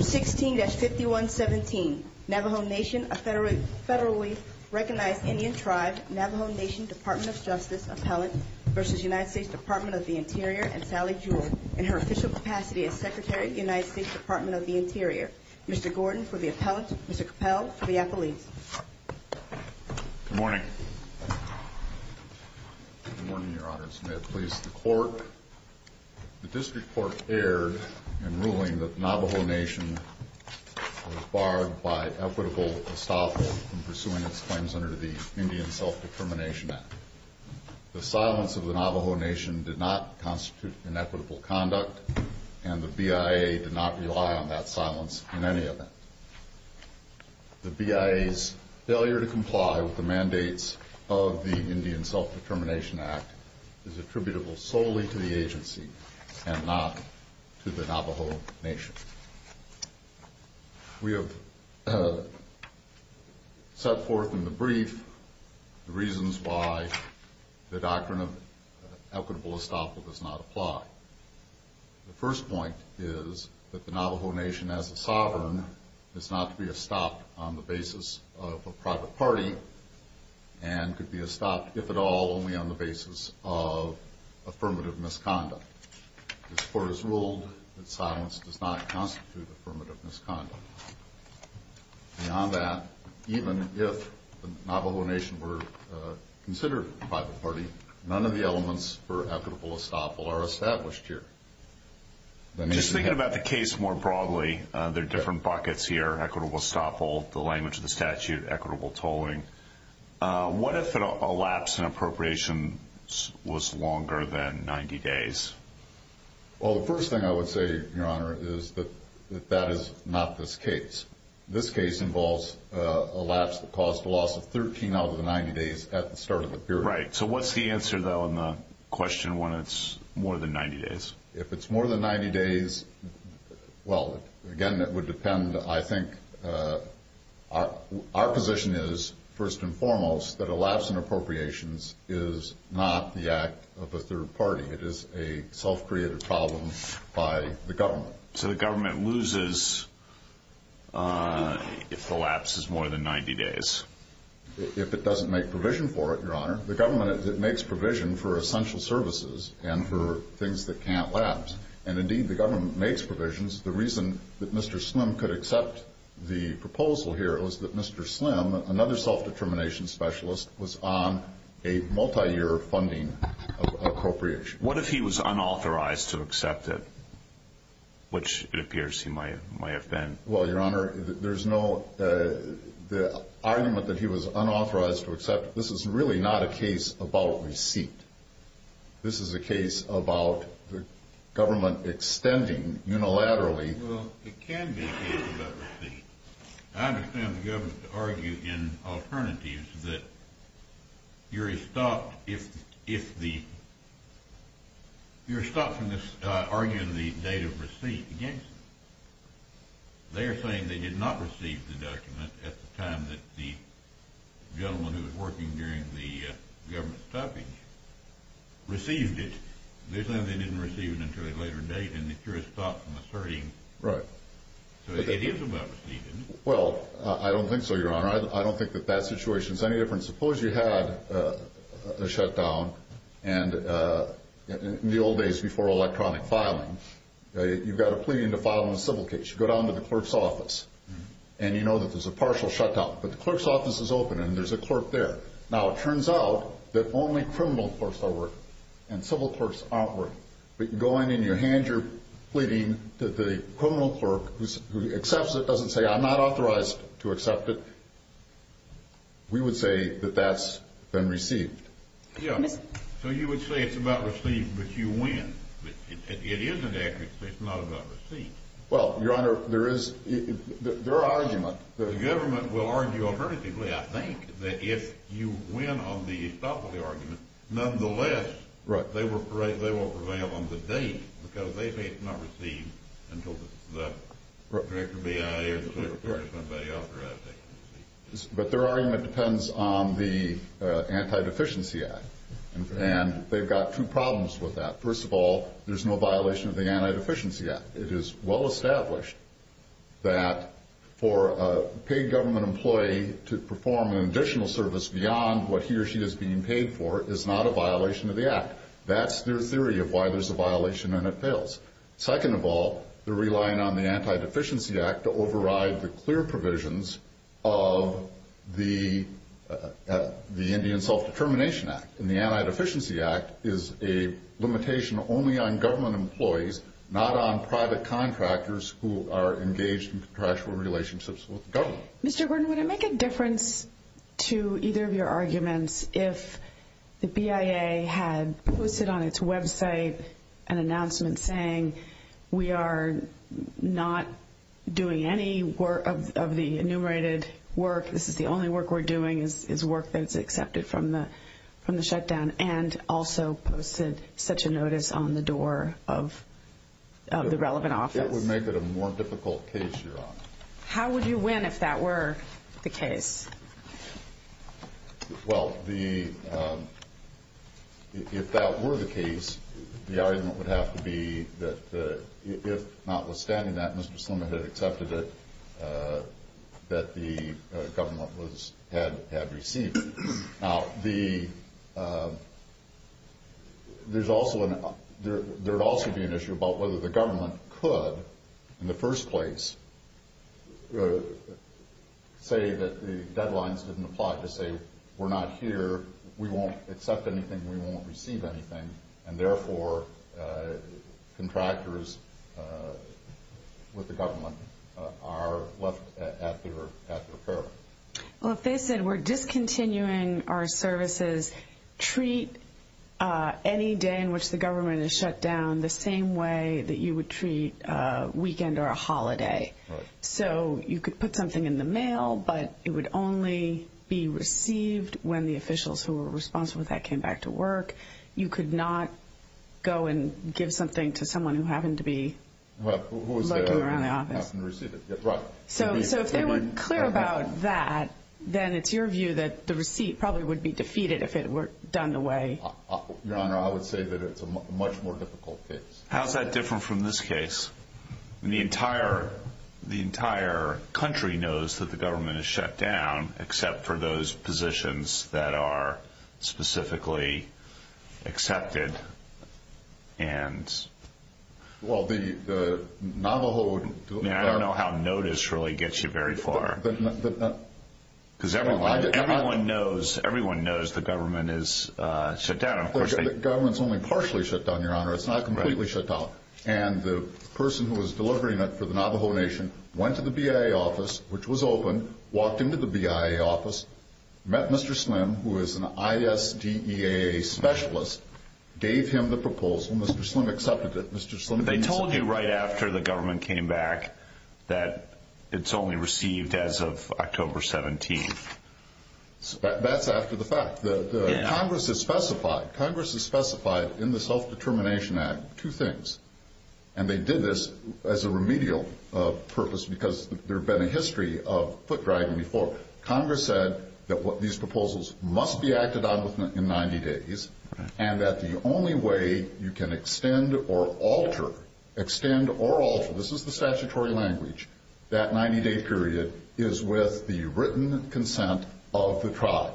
16-5117 Navajo Nation, a federally recognized Indian tribe, Navajo Nation Department of Justice Appellant v. United States Department of the Interior and Sally Jewell. In her official capacity as Secretary of the United States Department of the Interior, Mr. Gordon for the Appellant, Mr. Capel for the Appellant. Good morning. Good morning, Your Honors. May it please the Court. The District Court erred in ruling that the Navajo Nation was barred by equitable estoppel in pursuing its claims under the Indian Self-Determination Act. The silence of the Navajo Nation did not constitute inequitable conduct, and the BIA did not rely on that silence in any event. The BIA's failure to comply with the mandates of the Indian Self-Determination Act is attributable solely to the agency and not to the Navajo Nation. We have set forth in the brief the reasons why the doctrine of equitable estoppel does not apply. The first point is that the Navajo Nation as a sovereign is not to be estopped on the basis of a private party and could be estopped, if at all, only on the basis of affirmative misconduct. This Court has ruled that silence does not constitute affirmative misconduct. Beyond that, even if the Navajo Nation were considered a private party, none of the elements for equitable estoppel are established here. Just thinking about the case more broadly, there are different buckets here, equitable estoppel, the language of the statute, equitable tolling. What if an elapse in appropriations was longer than 90 days? Well, the first thing I would say, Your Honor, is that that is not this case. This case involves an elapse that caused a loss of 13 out of the 90 days at the start of the period. Right. So what's the answer, though, in the question when it's more than 90 days? If it's more than 90 days, well, again, it would depend, I think. Our position is, first and foremost, that elapse in appropriations is not the act of a third party. It is a self-created problem by the government. So the government loses if the lapse is more than 90 days? If it doesn't make provision for it, Your Honor. The government makes provision for essential services and for things that can't lapse. And indeed, the government makes provisions. The reason that Mr. Slim could accept the proposal here was that Mr. Slim, another self-determination specialist, was on a multi-year funding appropriation. What if he was unauthorized to accept it, which it appears he might have been? Well, Your Honor, there's no argument that he was unauthorized to accept it. This is really not a case about receipt. This is a case about the government extending unilaterally. Well, it can be a case about receipt. I understand the government to argue in alternatives that you're stopped if the – you're stopped from arguing the date of receipt against it. They're saying they did not receive the document at the time that the gentleman who was working during the government's stoppage received it. They're saying they didn't receive it until a later date, and the jurist stopped from asserting. So it is about receipt, isn't it? Well, I don't think so, Your Honor. I don't think that that situation is any different. Suppose you had a shutdown, and in the old days before electronic filing, you've got a pleading to file on a civil case. You go down to the clerk's office, and you know that there's a partial shutdown. But the clerk's office is open, and there's a clerk there. Now, it turns out that only criminal clerks are working, and civil clerks aren't working. But you go in, and you hand your pleading to the criminal clerk who accepts it, doesn't say, I'm not authorized to accept it. We would say that that's been received. Yeah. So you would say it's about receipt, but you win. It isn't accurate to say it's not about receipt. Well, Your Honor, there is – there are arguments. The government will argue alternatively, I think, that if you win on the stop of the argument, nonetheless, they won't prevail on the date, because they may not receive until the director of the BIA or the clerk's office is authorized to receive it. But their argument depends on the Anti-Deficiency Act, and they've got two problems with that. First of all, there's no violation of the Anti-Deficiency Act. It is well established that for a paid government employee to perform an additional service beyond what he or she is being paid for is not a violation of the Act. That's their theory of why there's a violation and it fails. Second of all, they're relying on the Anti-Deficiency Act to override the clear provisions of the Indian Self-Determination Act. And the Anti-Deficiency Act is a limitation only on government employees, not on private contractors who are engaged in contractual relationships with the government. Mr. Gordon, would it make a difference to either of your arguments if the BIA had posted on its website an announcement saying we are not doing any of the enumerated work, this is the only work we're doing, is work that's accepted from the shutdown, and also posted such a notice on the door of the relevant office? It would make it a more difficult case, Your Honor. How would you win if that were the case? Well, if that were the case, the argument would have to be that if notwithstanding that, Mr. Slim had accepted it, that the government had received it. Now, there would also be an issue about whether the government could, in the first place, say that the deadlines didn't apply, to say we're not here, we won't accept anything, we won't receive anything, and therefore contractors with the government are left at their peril. Well, if they said we're discontinuing our services, treat any day in which the government is shut down the same way that you would treat a weekend or a holiday. So, you could put something in the mail, but it would only be received when the officials who were responsible for that came back to work. You could not go and give something to someone who happened to be lurking around the office. So, if they were clear about that, then it's your view that the receipt probably would be defeated if it were done away. Your Honor, I would say that it's a much more difficult case. How's that different from this case? The entire country knows that the government is shut down, except for those positions that are specifically accepted. I don't know how notice really gets you very far. Everyone knows the government is shut down. The government is only partially shut down, Your Honor. It's not completely shut down. And the person who was delivering it for the Navajo Nation went to the BIA office, which was open, walked into the BIA office, met Mr. Slim, who is an ISDEA specialist, gave him the proposal, Mr. Slim accepted it. They told you right after the government came back that it's only received as of October 17th. That's after the fact. Congress has specified in the Self-Determination Act two things. And they did this as a remedial purpose because there had been a history of foot dragging before. Congress said that these proposals must be acted on within 90 days and that the only way you can extend or alter, extend or alter, this is the statutory language, that 90-day period is with the written consent of the tribe.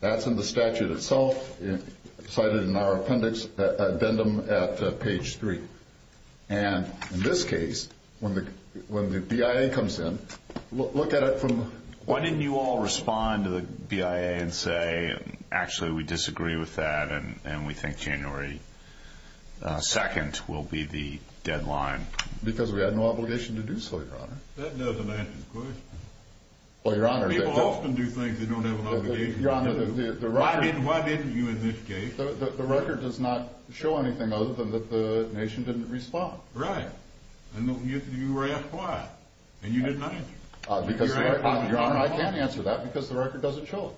That's in the statute itself, cited in our appendix, addendum at page 3. And in this case, when the BIA comes in, look at it from... Why didn't you all respond to the BIA and say, actually, we disagree with that and we think January 2nd will be the deadline? Because we had no obligation to do so, Your Honor. That doesn't answer the question. Well, Your Honor... People often do things they don't have an obligation to do. Your Honor, the record... Why didn't you in this case? The record does not show anything other than that the nation didn't respond. Right. And you were asked why. And you didn't answer. Because, Your Honor, I can't answer that because the record doesn't show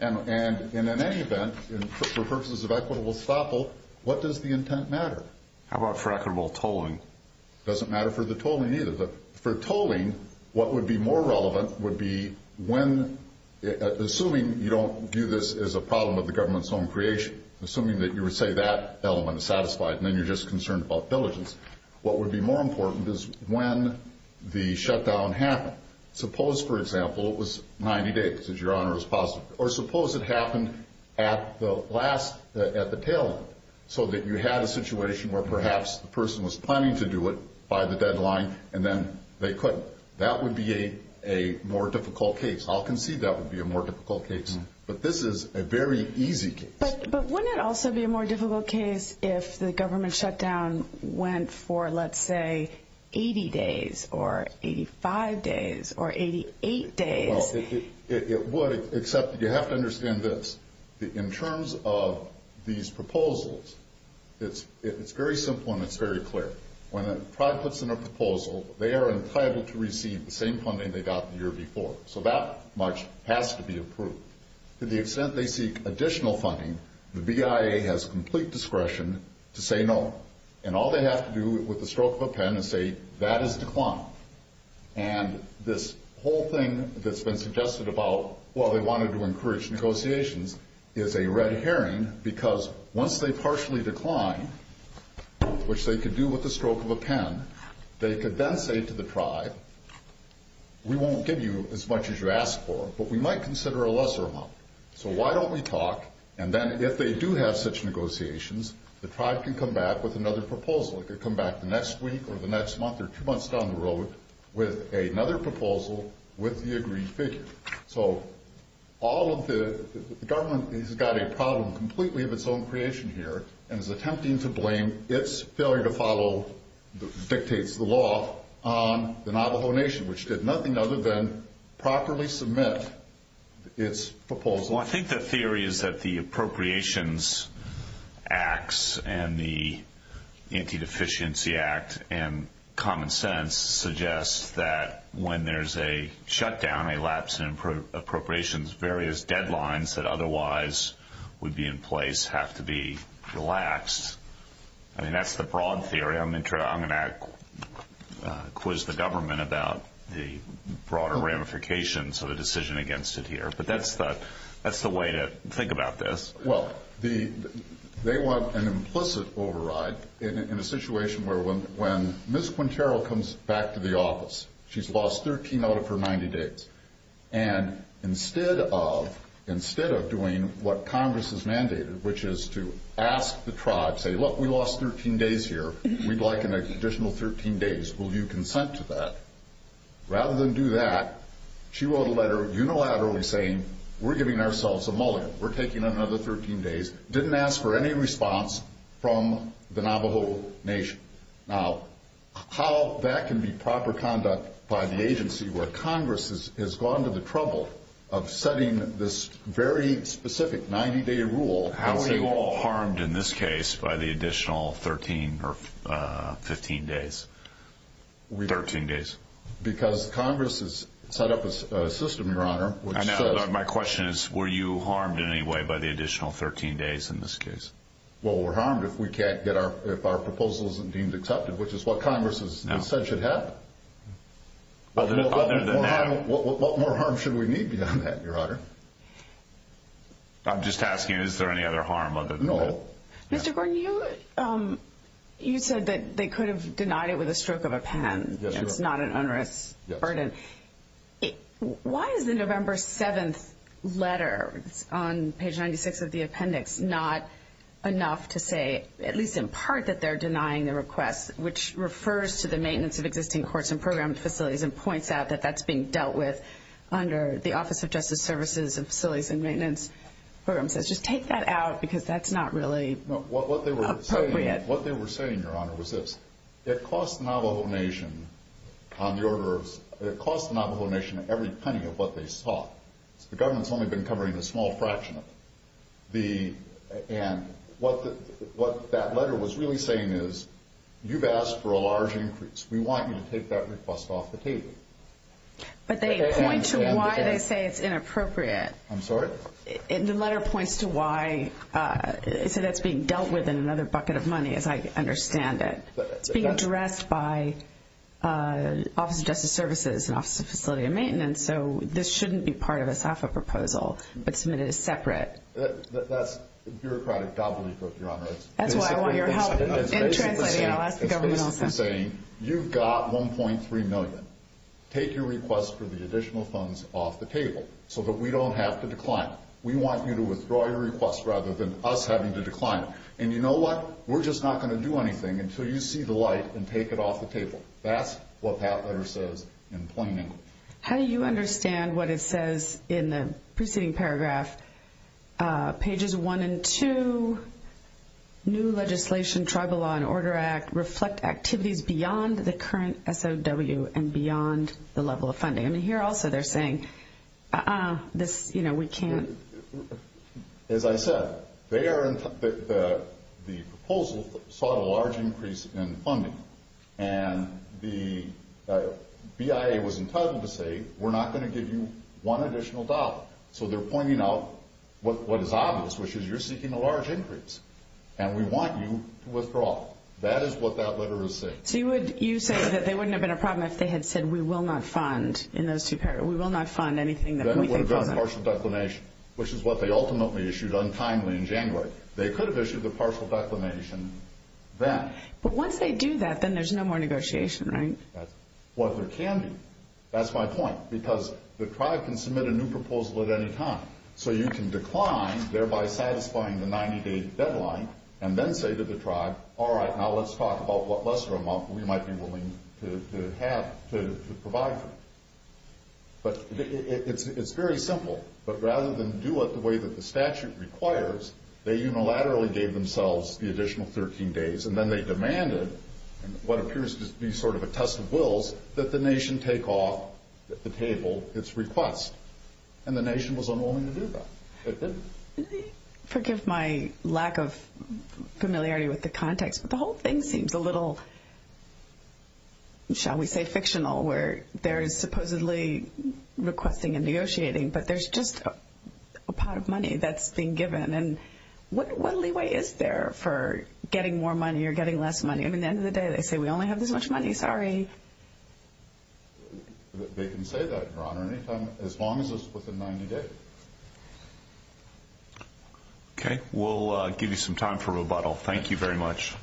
it. And in any event, for purposes of equitable estoppel, what does the intent matter? How about for equitable tolling? It doesn't matter for the tolling either. For tolling, what would be more relevant would be when... Assuming you don't view this as a problem of the government's own creation, assuming that you would say that element is satisfied and then you're just concerned about diligence, what would be more important is when the shutdown happened. Suppose, for example, it was 90 days, as Your Honor has posited, or suppose it happened at the last... at the tail end, so that you had a situation where perhaps the person was planning to do it by the deadline and then they couldn't. That would be a more difficult case. I'll concede that would be a more difficult case. But this is a very easy case. But wouldn't it also be a more difficult case if the government shutdown went for, let's say, 80 days or 85 days or 88 days? It would, except you have to understand this. In terms of these proposals, it's very simple and it's very clear. When a tribe puts in a proposal, they are entitled to receive the same funding they got the year before. So that much has to be approved. To the extent they seek additional funding, the BIA has complete discretion to say no. And all they have to do with the stroke of a pen is say, that is declined. And this whole thing that's been suggested about, well, they wanted to encourage negotiations, is a red herring because once they partially decline, which they could do with the stroke of a pen, they could then say to the tribe, we won't give you as much as you asked for, but we might consider a lesser amount. So why don't we talk? And then if they do have such negotiations, the tribe can come back with another proposal. It could come back the next week or the next month or two months down the road with another proposal with the agreed figure. So all of the government has got a problem completely of its own creation here and is attempting to blame its failure to follow the dictates of the law on the Navajo Nation, which did nothing other than properly submit its proposal. Well, I think the theory is that the Appropriations Acts and the Anti-Deficiency Act and common sense suggests that when there's a shutdown, a lapse in appropriations, various deadlines that otherwise would be in place have to be relaxed. I mean, that's the broad theory. I'm going to quiz the government about the broader ramifications of the decision against it here. But that's the way to think about this. Well, they want an implicit override in a situation where when Ms. Quintero comes back to the office, she's lost 13 out of her 90 days, and instead of doing what Congress has mandated, which is to ask the tribe, say, look, we lost 13 days here. We'd like an additional 13 days. Will you consent to that? Rather than do that, she wrote a letter unilaterally saying we're giving ourselves a mullet. We're taking another 13 days. Didn't ask for any response from the Navajo Nation. Now, how that can be proper conduct by the agency where Congress has gone to the trouble of setting this very specific 90-day rule? How were you all harmed in this case by the additional 13 or 15 days? 13 days. Because Congress has set up a system, Your Honor. I know, but my question is were you harmed in any way by the additional 13 days in this case? Well, we're harmed if our proposal isn't deemed accepted, which is what Congress has said should happen. Other than that? What more harm should we need beyond that, Your Honor? I'm just asking is there any other harm other than that? No. Mr. Gordon, you said that they could have denied it with a stroke of a pen. It's not an onerous burden. Why is the November 7th letter on page 96 of the appendix not enough to say, at least in part, that they're denying the request, which refers to the maintenance of existing courts and program facilities and points out that that's being dealt with under the Office of Justice Services and Facilities and Maintenance. Just take that out because that's not really appropriate. What they were saying, Your Honor, was this. It cost the Navajo Nation every penny of what they sought. The government's only been covering a small fraction of it. And what that letter was really saying is you've asked for a large increase. We want you to take that request off the table. But they point to why they say it's inappropriate. I'm sorry? The letter points to why they say that's being dealt with in another bucket of money, as I understand it. It's being addressed by Office of Justice Services and Office of Facilities and Maintenance, so this shouldn't be part of a SAFA proposal, but submitted as separate. That's bureaucratic gobbledygook, Your Honor. That's why I want your help in translating. I'll ask the government also. It's basically saying you've got $1.3 million. Take your request for the additional funds off the table so that we don't have to decline. We want you to withdraw your request rather than us having to decline. And you know what? We're just not going to do anything until you see the light and take it off the table. That's what that letter says in plain English. How do you understand what it says in the preceding paragraph? Pages 1 and 2, new legislation, Tribal Law and Order Act, reflect activities beyond the current SOW and beyond the level of funding. I mean, here also they're saying, uh-uh, this, you know, we can't. As I said, the proposal sought a large increase in funding, and the BIA was entitled to say, we're not going to give you one additional dollar. So they're pointing out what is obvious, which is you're seeking a large increase, and we want you to withdraw. That is what that letter is saying. So you say that they wouldn't have been a problem if they had said, we will not fund in those two paragraphs. We will not fund anything that we think doesn't. Then it would have gone to partial declination, which is what they ultimately issued untimely in January. They could have issued the partial declination then. But once they do that, then there's no more negotiation, right? Well, there can be. That's my point, because the tribe can submit a new proposal at any time. So you can decline, thereby satisfying the 90-day deadline, and then say to the tribe, all right, now let's talk about what lesser amount we might be willing to have to provide for you. But it's very simple. But rather than do it the way that the statute requires, they unilaterally gave themselves the additional 13 days, and then they demanded what appears to be sort of a test of wills, that the nation take off the table its request. And the nation was unwilling to do that. It didn't. Forgive my lack of familiarity with the context, but the whole thing seems a little, shall we say fictional, where there is supposedly requesting and negotiating, but there's just a pot of money that's being given. And what leeway is there for getting more money or getting less money? I mean, at the end of the day, they say we only have this much money. Sorry. They can say that, Your Honor, as long as it's within 90 days. Okay. We'll give you some time for rebuttal. Thank you very much.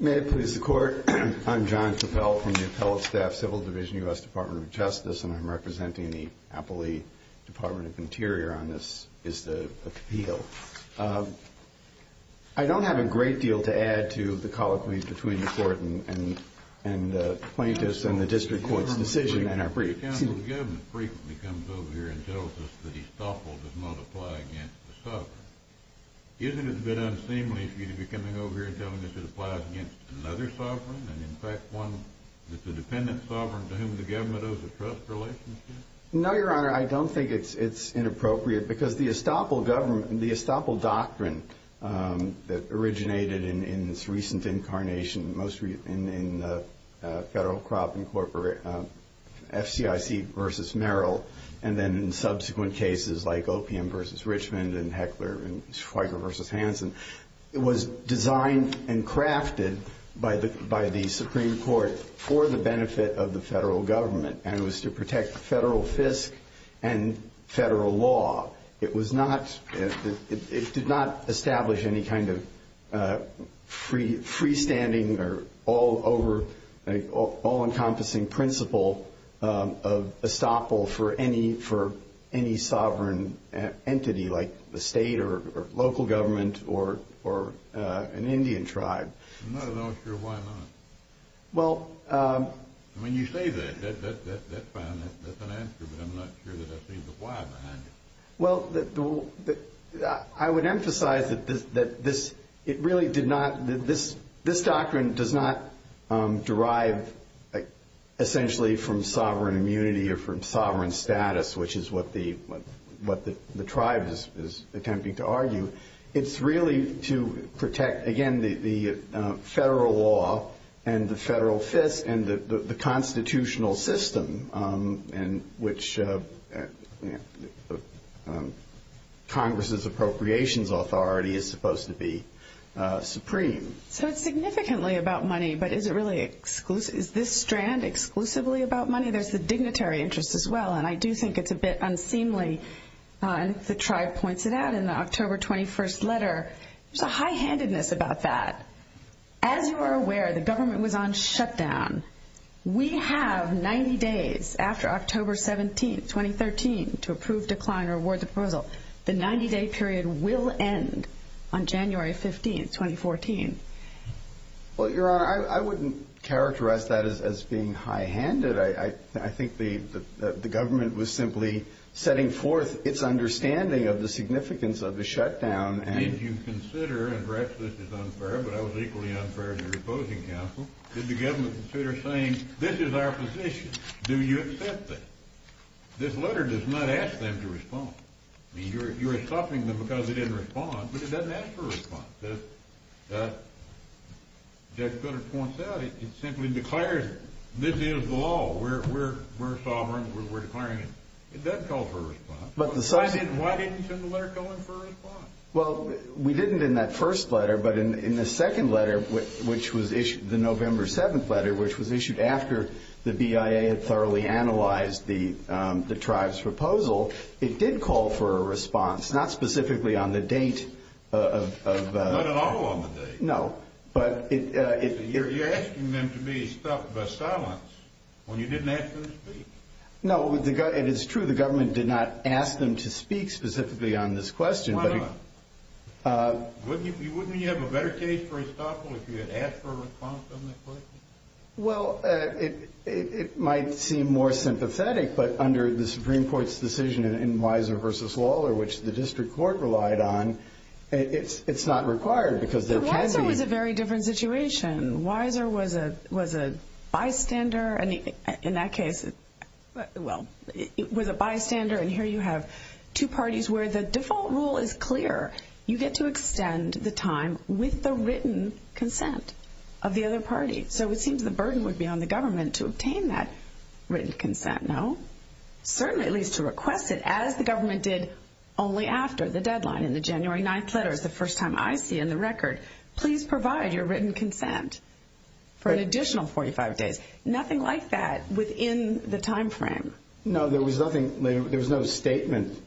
May it please the Court. I'm John Cappell from the Appellate Staff Civil Division, U.S. Department of Justice, and I'm representing the Appellee Department of Interior on this appeal. I don't have a great deal to add to the colloquy between the Court and the plaintiffs and the district court's decision. The governor frequently comes over here and tells us that he's thoughtful to not apply against the sovereign. Isn't it a bit unseemly for you to be coming over here knowing that it applies against another sovereign and, in fact, one that's a dependent sovereign to whom the government owes a trust relationship? No, Your Honor. I don't think it's inappropriate because the estoppel government and the estoppel doctrine that originated in its recent incarnation, mostly in federal, crop, and corporate FCIC v. Merrill, and then in subsequent cases like OPM v. Richmond and Heckler and Schweiger v. Hansen, was designed and crafted by the Supreme Court for the benefit of the federal government, and it was to protect federal FISC and federal law. It did not establish any kind of freestanding or all-encompassing principle of estoppel for any sovereign entity like the state or local government or an Indian tribe. I'm not at all sure why not. When you say that, that's fine. That's an answer, but I'm not sure that I see the why behind it. Well, I would emphasize that this doctrine does not derive essentially from sovereign immunity or from sovereign status, which is what the tribe is attempting to argue. It's really to protect, again, the federal law and the federal FISC and the constitutional system in which Congress's appropriations authority is supposed to be supreme. So it's significantly about money, but is this strand exclusively about money? I would say there's the dignitary interest as well, and I do think it's a bit unseemly. The tribe points it out in the October 21st letter. There's a high-handedness about that. As you are aware, the government was on shutdown. We have 90 days after October 17th, 2013, to approve, decline, or award the proposal. The 90-day period will end on January 15th, 2014. Well, Your Honor, I wouldn't characterize that as being high-handed. I think the government was simply setting forth its understanding of the significance of the shutdown. Did you consider, and perhaps this is unfair, but I was equally unfair to the opposing counsel, did the government consider saying, this is our position, do you accept it? This letter does not ask them to respond. You are stopping them because they didn't respond, but it doesn't ask for a response. As Judge Goodhart points out, it simply declares this is the law. We're sovereign. We're declaring it. It doesn't call for a response. Why didn't you send the letter calling for a response? Well, we didn't in that first letter, but in the second letter, which was issued, the November 7th letter, which was issued after the BIA had thoroughly analyzed the tribe's proposal, it did call for a response, not specifically on the date. Not at all on the date. No. You're asking them to be stopped by silence when you didn't ask them to speak. No, it is true the government did not ask them to speak specifically on this question. Why not? Wouldn't you have a better case for Estoppel if you had asked for a response on that question? Well, it might seem more sympathetic, but under the Supreme Court's decision in Weiser v. Lawler, which the district court relied on, it's not required because there can be. Weiser was a very different situation. Weiser was a bystander. In that case, well, it was a bystander, and here you have two parties where the default rule is clear. You get to extend the time with the written consent of the other party. So it seems the burden would be on the government to obtain that written consent, no? Certainly, at least to request it, as the government did only after the deadline. In the January 9th letters, the first time I see in the record, please provide your written consent for an additional 45 days. Nothing like that within the time frame. No, there was nothing. There was no statement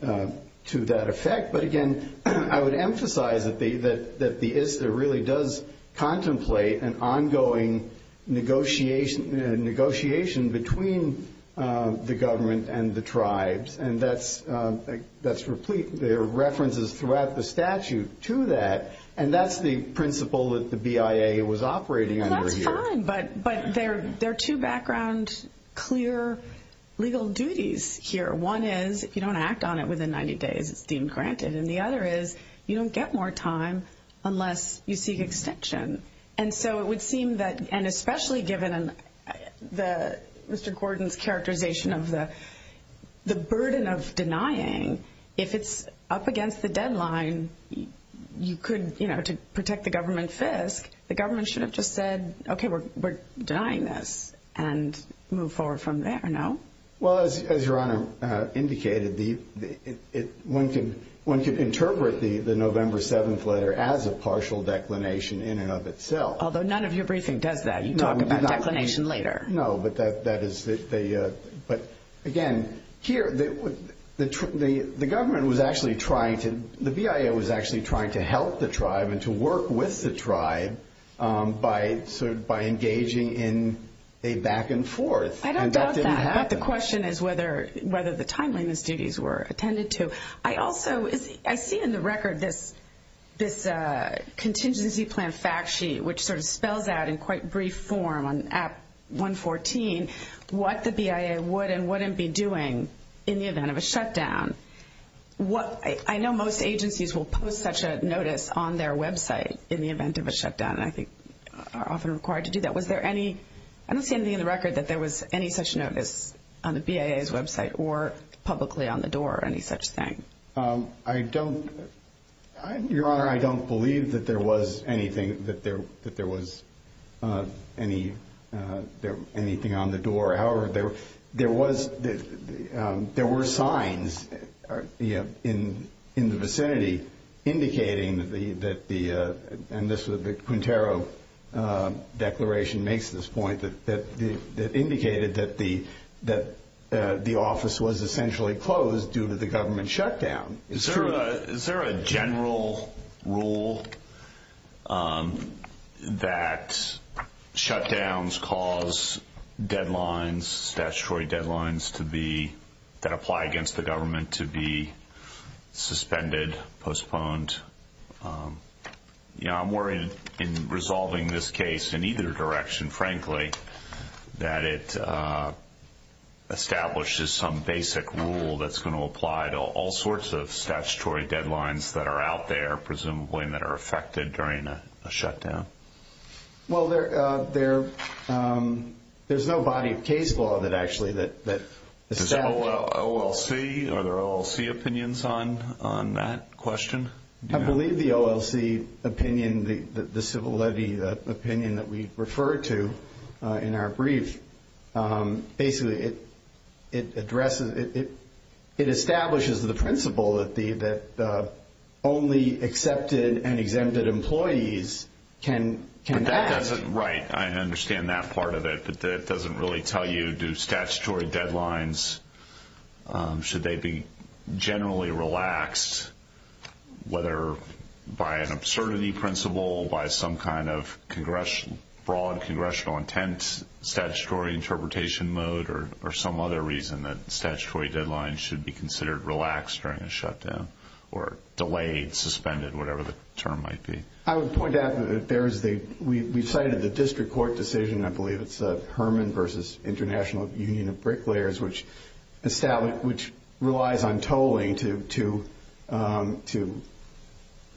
to that effect. But, again, I would emphasize that the ISDA really does contemplate an ongoing negotiation between the government and the tribes, and there are references throughout the statute to that, and that's the principle that the BIA was operating under here. That's fine, but there are two background clear legal duties here. One is if you don't act on it within 90 days, it's deemed granted, and the other is you don't get more time unless you seek extension. And so it would seem that, and especially given Mr. Gordon's characterization of the burden of denying, if it's up against the deadline, you could, you know, to protect the government fisc, the government should have just said, okay, we're denying this and move forward from there, no? Well, as Your Honor indicated, one could interpret the November 7th letter as a partial declination in and of itself. Although none of your briefing does that. You talk about declination later. No, but that is the, but, again, here the government was actually trying to, the BIA was actually trying to help the tribe and to work with the tribe by engaging in a back and forth. I don't doubt that, but the question is whether the timeliness duties were attended to. I also, I see in the record this contingency plan fact sheet, which sort of spells out in quite brief form on App 114 what the BIA would and wouldn't be doing in the event of a shutdown. I know most agencies will post such a notice on their website in the event of a shutdown, and I think are often required to do that. Was there any, I don't see anything in the record that there was any such notice on the BIA's website or publicly on the door or any such thing. I don't, Your Honor, I don't believe that there was anything, that there was anything on the door. However, there was, there were signs in the vicinity indicating that the, and this was the Quintero declaration makes this point, that indicated that the office was essentially closed due to the government shutdown. Is there a general rule that shutdowns cause deadlines, statutory deadlines to be, that apply against the government to be suspended, postponed? I'm worried in resolving this case in either direction, frankly, that it establishes some basic rule that's going to apply to all sorts of statutory deadlines that are out there, presumably that are affected during a shutdown. Well, there's no body of case law that actually, that establishes. Does OLC, are there OLC opinions on that question? I believe the OLC opinion, the civil levy opinion that we refer to in our brief, basically it addresses, it establishes the principle that only accepted and exempted employees can act. But that doesn't, right, I understand that part of it, but that doesn't really tell you do statutory deadlines, should they be generally relaxed, whether by an absurdity principle, by some kind of broad congressional intent, statutory interpretation mode, or some other reason that statutory deadlines should be considered relaxed during a shutdown, or delayed, suspended, whatever the term might be. I would point out that there is the, we cited the district court decision, I believe it's Herman versus International Union of Bricklayers, which relies on tolling to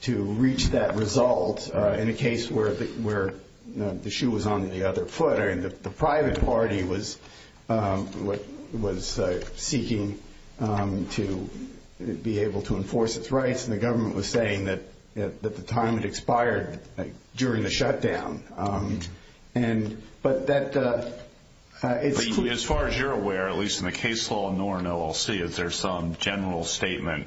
reach that result in a case where the shoe was on the other foot. I mean, the private party was seeking to be able to enforce its rights, and the government was saying that the time had expired during the shutdown. But that, it's clear. As far as you're aware, at least in the case law, nor in OLC, is there some general statement,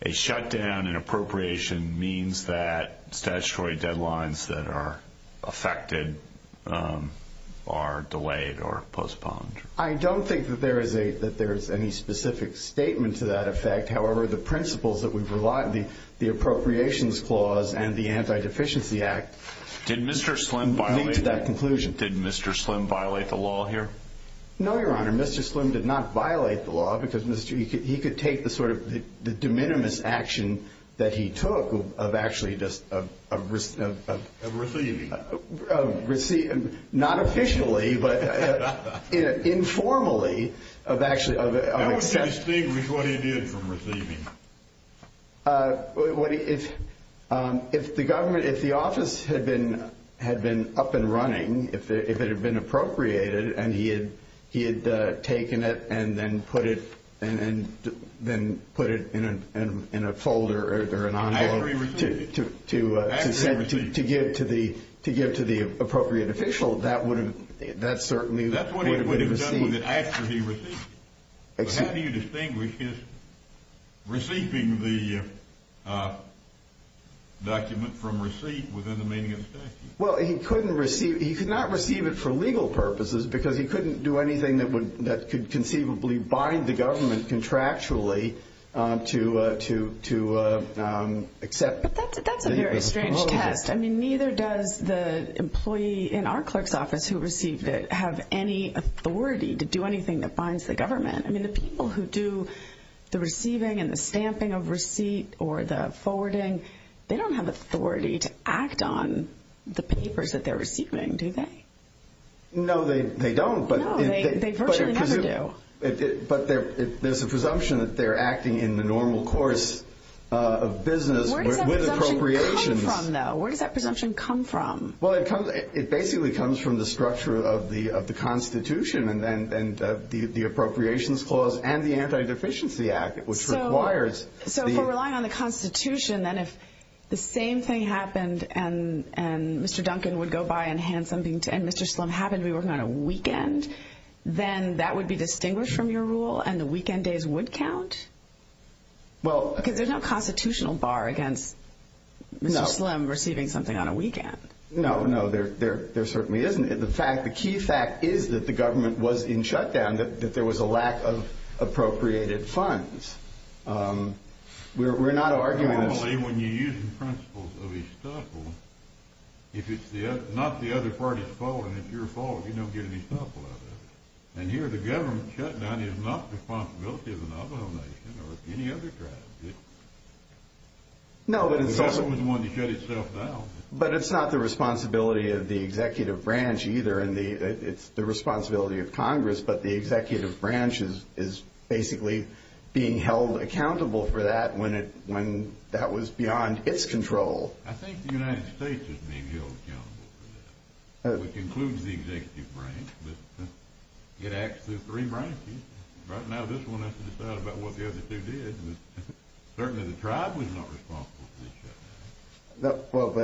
a shutdown in appropriation means that statutory deadlines that are affected are delayed or postponed. I don't think that there is any specific statement to that effect. However, the principles that we've relied, the appropriations clause and the Anti-Deficiency Act. Did Mr. Slim violate the law here? No, Your Honor, Mr. Slim did not violate the law, because he could take the sort of de minimis action that he took of actually just receiving. Not officially, but informally of actually accepting. How would you distinguish what he did from receiving? If the office had been up and running, if it had been appropriated, and he had taken it and then put it in a folder or an envelope to give to the appropriate official, that certainly would have received. That's what he would have done after he received it. But how do you distinguish his receiving the document from received within the meaning of the statute? Well, he could not receive it for legal purposes, because he couldn't do anything that could conceivably bind the government contractually to accept. But that's a very strange test. I mean, neither does the employee in our clerk's office who received it have any authority to do anything that binds the government. I mean, the people who do the receiving and the stamping of receipt or the forwarding, they don't have authority to act on the papers that they're receiving, do they? No, they don't. No, they virtually never do. But there's a presumption that they're acting in the normal course of business with appropriations. Where does that presumption come from, though? Where does that presumption come from? Well, it basically comes from the structure of the Constitution and the Appropriations Clause and the Anti-Deficiency Act, which requires the- So if we're relying on the Constitution, then if the same thing happened and Mr. Duncan would go by and hand something to Mr. Slim, happened to be working on a weekend, then that would be distinguished from your rule and the weekend days would count? Because there's no constitutional bar against Mr. Slim receiving something on a weekend. No, no, there certainly isn't. The key fact is that the government was in shutdown, that there was a lack of appropriated funds. We're not arguing that- Normally, when you're using principles of estoppel, if it's not the other party's fault and it's your fault, you don't get an estoppel out of it. And here the government shutdown is not the responsibility of the Navajo Nation or any other tribe. No, but it's also- The government was the one that shut itself down. But it's not the responsibility of the executive branch either. It's the responsibility of Congress, but the executive branch is basically being held accountable for that when that was beyond its control. I think the United States is being held accountable for that, which includes the executive branch. It acts through three branches. Right now this one has to decide about what the other two did. Certainly the tribe was not responsible for the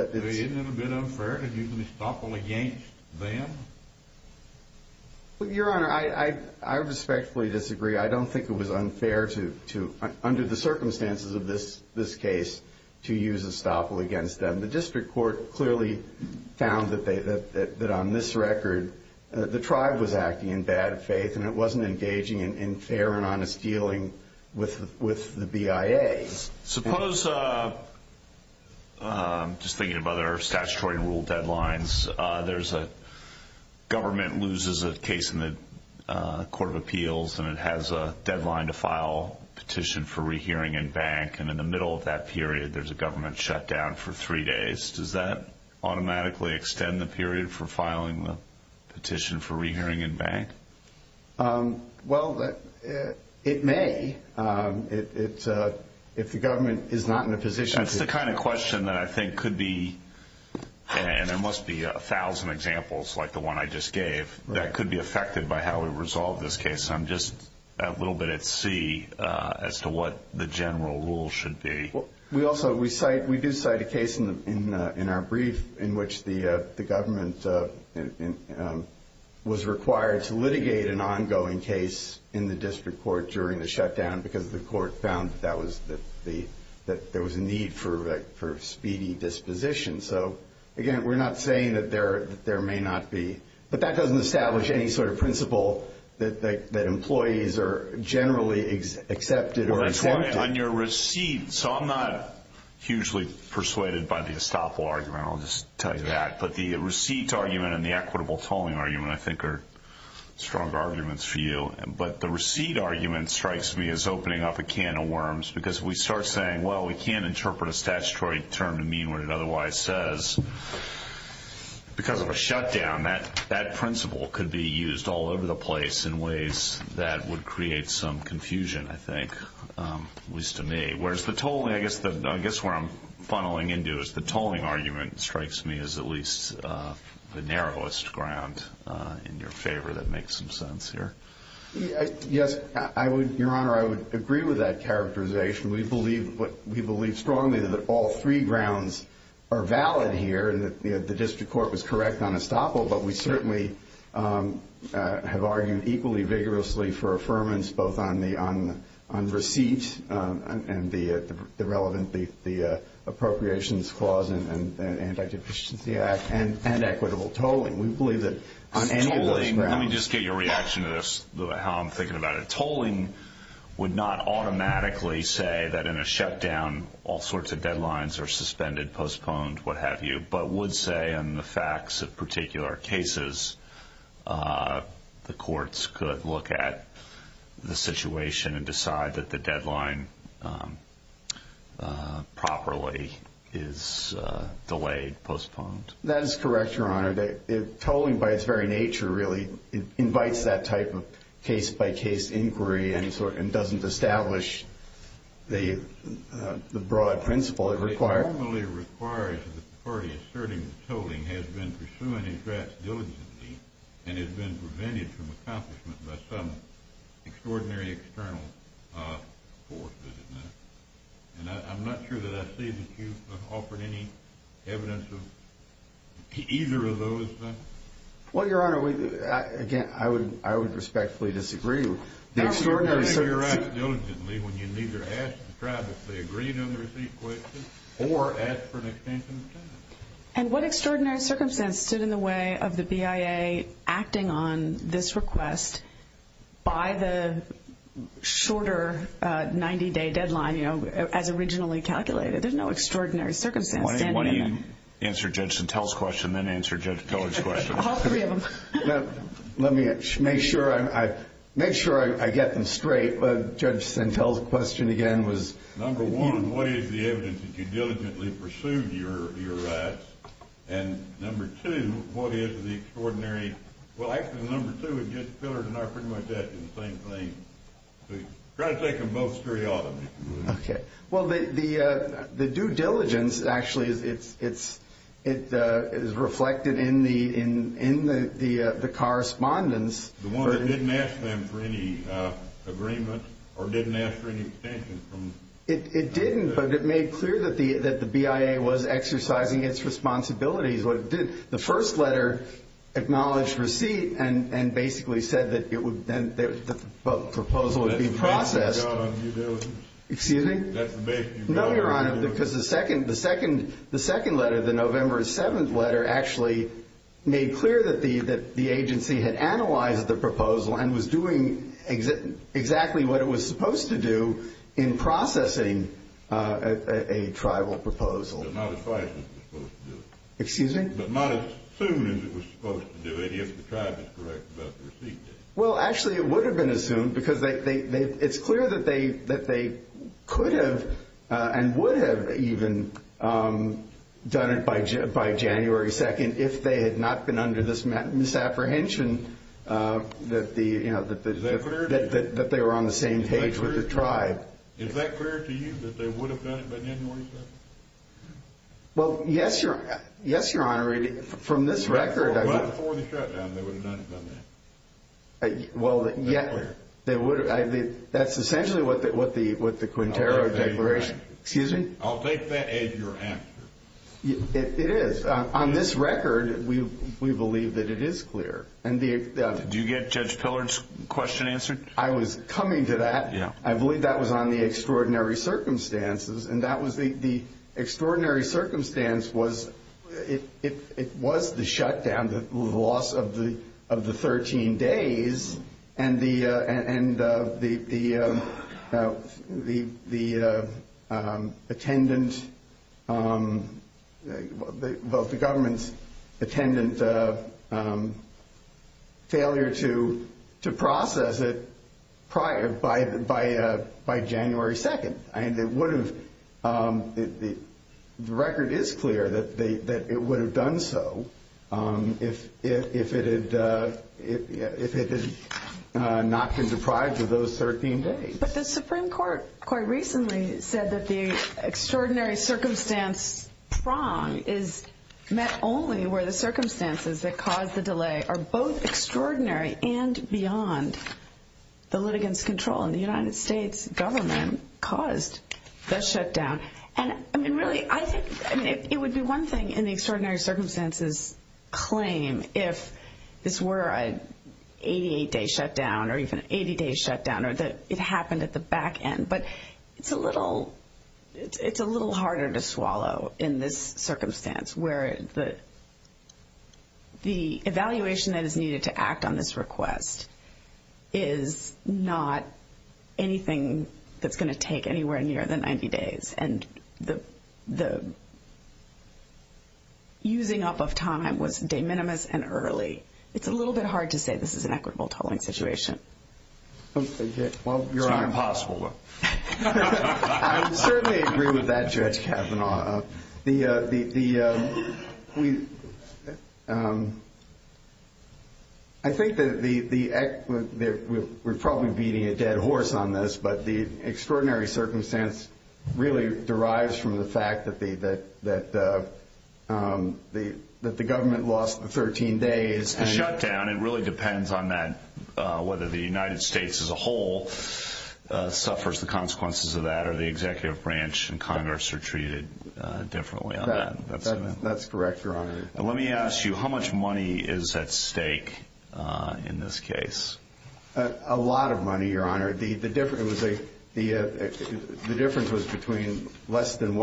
shutdown. Isn't it a bit unfair to use an estoppel against them? Your Honor, I respectfully disagree. I don't think it was unfair to, under the circumstances of this case, to use estoppel against them. The district court clearly found that on this record the tribe was acting in bad faith and it wasn't engaging in fair and honest dealing with the BIA. Suppose, just thinking of other statutory and rule deadlines, there's a government loses a case in the Court of Appeals and it has a deadline to file a petition for rehearing in bank. In the middle of that period there's a government shutdown for three days. Does that automatically extend the period for filing the petition for rehearing in bank? Well, it may if the government is not in a position to... That's the kind of question that I think could be, and there must be a thousand examples like the one I just gave, that could be affected by how we resolve this case. I'm just a little bit at sea as to what the general rule should be. We do cite a case in our brief in which the government was required to litigate an ongoing case in the district court during the shutdown because the court found that there was a need for speedy disposition. So, again, we're not saying that there may not be... But that doesn't establish any sort of principle that employees are generally accepted or accepted. On your receipt, so I'm not hugely persuaded by the estoppel argument. I'll just tell you that. But the receipt argument and the equitable tolling argument I think are strong arguments for you. But the receipt argument strikes me as opening up a can of worms because we start saying, well, we can't interpret a statutory term to mean what it otherwise says. Because of a shutdown, that principle could be used all over the place in ways that would create some confusion, I think, at least to me, whereas the tolling, I guess where I'm funneling into is the tolling argument strikes me as at least the narrowest ground in your favor that makes some sense here. Yes, Your Honor, I would agree with that characterization. We believe strongly that all three grounds are valid here and that the district court was correct on estoppel. But we certainly have argued equally vigorously for affirmance both on receipt and the relevant appropriations clause in the Anti-Deficiency Act and equitable tolling. We believe that on any of those grounds... Let me just get your reaction to this, how I'm thinking about it. The tolling would not automatically say that in a shutdown all sorts of deadlines are suspended, postponed, what have you, but would say in the facts of particular cases the courts could look at the situation and decide that the deadline properly is delayed, postponed. That is correct, Your Honor. Tolling, by its very nature, really invites that type of case-by-case inquiry and doesn't establish the broad principle it requires. It normally requires the party asserting that tolling has been pursuing its rights diligently and has been prevented from accomplishment by some extraordinary external force, doesn't it? And I'm not sure that I see that you've offered any evidence of either of those things. Well, Your Honor, again, I would respectfully disagree. The extraordinary circumstance... Your Honor, you're asking diligently when you neither asked the tribe if they agreed on the receipt question or asked for an extension of time. And what extraordinary circumstance stood in the way of the BIA acting on this request by the shorter 90-day deadline, you know, as originally calculated? There's no extraordinary circumstance standing in the way. Why don't you answer Judge Santel's question, then answer Judge Pillar's question. All three of them. Let me make sure I get them straight. Judge Santel's question, again, was... Number one, what is the evidence that you diligently pursued your rights? And number two, what is the extraordinary... Well, actually, number two and Judge Pillar are pretty much the same thing. Try to take them both straight out of me. Okay. Well, the due diligence actually is reflected in the correspondence. The one that didn't ask them for any agreement or didn't ask for any extension from... It didn't, but it made clear that the BIA was exercising its responsibilities. What it did, the first letter acknowledged receipt and basically said that the proposal would be processed. That's the base of the job of due diligence. Excuse me? That's the base of due diligence. No, Your Honor, because the second letter, the November 7th letter, actually made clear that the agency had analyzed the proposal and was doing exactly what it was supposed to do in processing a tribal proposal. But not as fast as it was supposed to do it. Excuse me? But not as soon as it was supposed to do it if the tribe is correct about the receipt date. Well, actually, it would have been as soon because it's clear that they could have and would have even done it by January 2nd if they had not been under this misapprehension that they were on the same page with the tribe. Is that clear to you that they would have done it by January 2nd? Well, yes, Your Honor. Yes, Your Honor. From this record... Right before the shutdown, they would have done that. Well, yeah. That's clear. That's essentially what the Quintero Declaration... I'll take that as your answer. Excuse me? I'll take that as your answer. It is. On this record, we believe that it is clear. Did you get Judge Pillard's question answered? I was coming to that. I believe that was on the extraordinary circumstances, and the extraordinary circumstance was it was the shutdown, the loss of the 13 days, and the government's attendant failure to process it by January 2nd. The record is clear that it would have done so if it had not been deprived of those 13 days. But the Supreme Court quite recently said that the extraordinary circumstance prong is met only where the circumstances that caused the delay are both extraordinary and the United States government caused the shutdown. And, I mean, really, I think it would be one thing in the extraordinary circumstances claim if this were an 88-day shutdown or even an 80-day shutdown or that it happened at the back end. But it's a little harder to swallow in this circumstance where the evaluation that is needed to act on this request is not anything that's going to take anywhere near the 90 days. And the using up of time was de minimis and early. It's a little bit hard to say this is an equitable tolling situation. Well, you're on impossible. I certainly agree with that, Judge Kavanaugh. I think that we're probably beating a dead horse on this, but the extraordinary circumstance really derives from the fact that the government lost the 13 days. It's the shutdown. It really depends on whether the United States as a whole suffers the consequences of that or whether the executive branch and Congress are treated differently on that. That's correct, Your Honor. Let me ask you, how much money is at stake in this case? A lot of money, Your Honor. The difference was between less than $1.3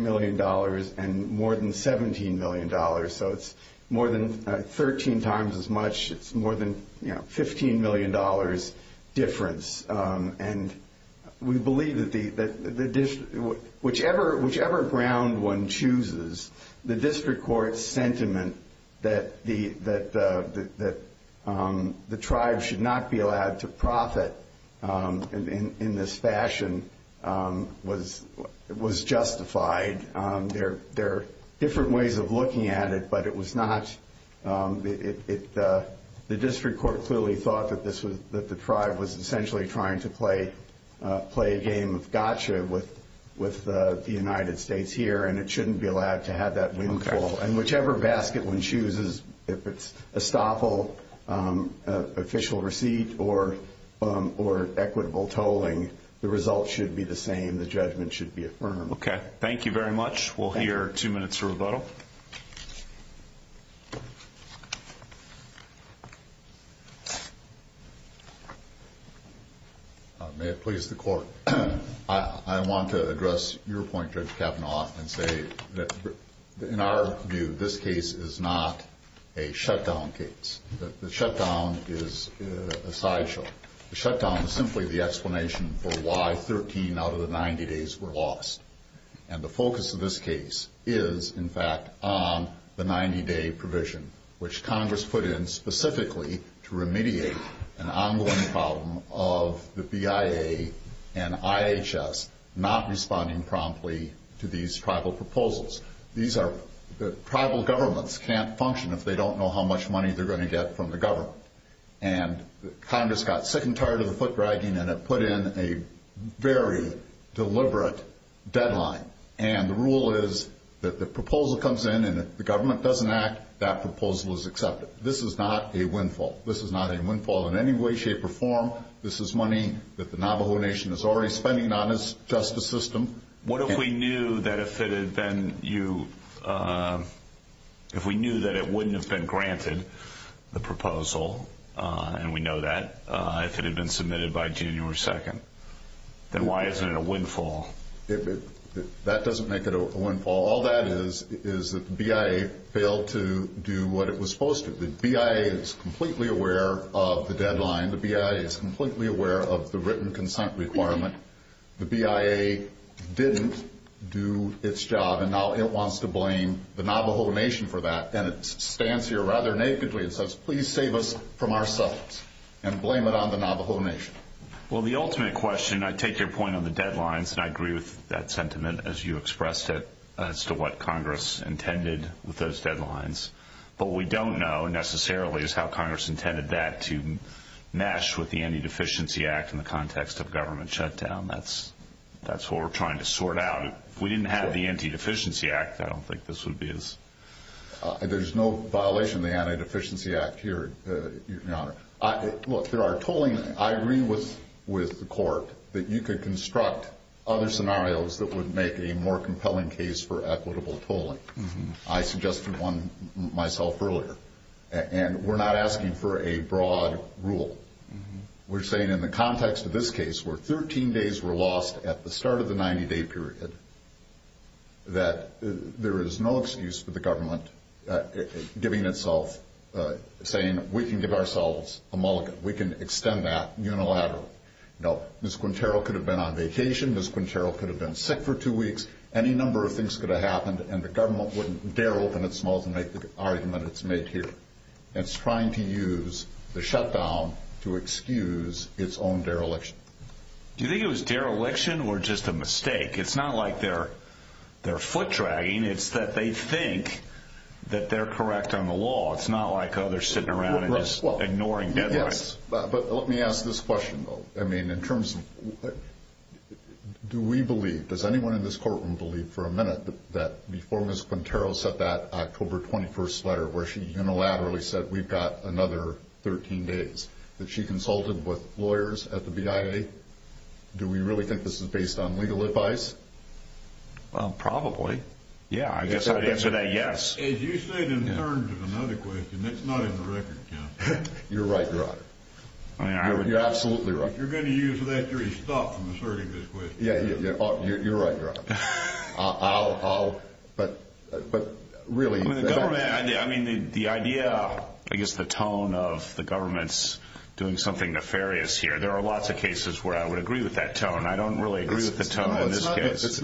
million and more than $17 million. So it's more than 13 times as much. It's more than $15 million difference. And we believe that whichever ground one chooses, the district court's sentiment that the tribe should not be allowed to profit in this fashion was justified. There are different ways of looking at it, but it was not. The district court clearly thought that the tribe was essentially trying to play a game of gotcha with the United States here, and it shouldn't be allowed to have that windfall. And whichever basket one chooses, if it's estoppel, official receipt, or equitable tolling, the result should be the same. The judgment should be affirmed. Okay. Thank you very much. We'll hear two minutes for rebuttal. May it please the Court. I want to address your point, Judge Kavanaugh, and say that in our view, this case is not a shutdown case. The shutdown is a sideshow. The shutdown is simply the explanation for why 13 out of the 90 days were lost. And the focus of this case is, in fact, on the 90-day provision, which Congress put in specifically to remediate an ongoing problem of the BIA and IHS not responding promptly to these tribal proposals. Tribal governments can't function if they don't know how much money they're going to get from the government. And Congress got sick and tired of the foot dragging, and it put in a very deliberate deadline. And the rule is that the proposal comes in, and if the government doesn't act, that proposal is accepted. This is not a windfall. This is not a windfall in any way, shape, or form. This is money that the Navajo Nation is already spending on its justice system. What if we knew that it wouldn't have been granted, the proposal, and we know that, if it had been submitted by June 2nd? Then why isn't it a windfall? That doesn't make it a windfall. All that is is that the BIA failed to do what it was supposed to. The BIA is completely aware of the deadline. The BIA is completely aware of the written consent requirement. The BIA didn't do its job, and now it wants to blame the Navajo Nation for that. And it stands here rather nakedly and says, please save us from ourselves and blame it on the Navajo Nation. Well, the ultimate question, I take your point on the deadlines, and I agree with that sentiment, as you expressed it, as to what Congress intended with those deadlines. What we don't know, necessarily, is how Congress intended that to mesh with the Anti-Deficiency Act in the context of government shutdown. That's what we're trying to sort out. If we didn't have the Anti-Deficiency Act, I don't think this would be as... There's no violation of the Anti-Deficiency Act here, Your Honor. Look, there are tolling... I agree with the Court that you could construct other scenarios that would make a more compelling case for equitable tolling. I suggested one myself earlier, and we're not asking for a broad rule. We're saying in the context of this case, where 13 days were lost at the start of the 90-day period, that there is no excuse for the government giving itself, saying we can give ourselves a mulligan, we can extend that unilaterally. Now, Ms. Quintero could have been on vacation, Ms. Quintero could have been sick for two weeks, any number of things could have happened, and the government wouldn't dare open its mouth and make the argument it's made here. It's trying to use the shutdown to excuse its own dereliction. Do you think it was dereliction or just a mistake? It's not like they're foot-dragging. It's that they think that they're correct on the law. It's not like others sitting around and just ignoring deadlines. Yes, but let me ask this question, though. Do we believe, does anyone in this courtroom believe for a minute that before Ms. Quintero set that October 21st letter, where she unilaterally said we've got another 13 days, that she consulted with lawyers at the BIA? Do we really think this is based on legal advice? Well, probably. Yeah, I guess I'd answer that yes. If you say it in terms of another question, it's not in the record count. You're right, Your Honor. You're absolutely right. You're going to use that jury's stuff in asserting this question. Yeah, you're right, Your Honor. I'll, but really. I mean, the idea, I guess the tone of the government's doing something nefarious here, there are lots of cases where I would agree with that tone. I don't really agree with the tone in this case.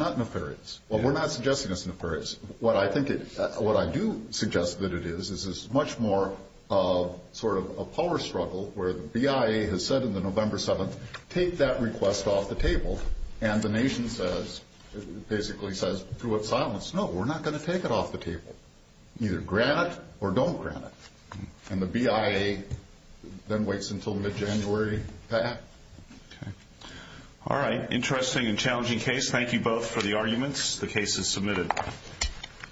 Well, we're not suggesting it's nefarious. What I do suggest that it is, is it's much more of sort of a power struggle where the BIA has said on the November 7th, take that request off the table, and the nation basically says through its silence, no, we're not going to take it off the table. Either grant it or don't grant it. And the BIA then waits until mid-January to act. All right. Interesting and challenging case. Thank you both for the arguments. The case is submitted. Thank you.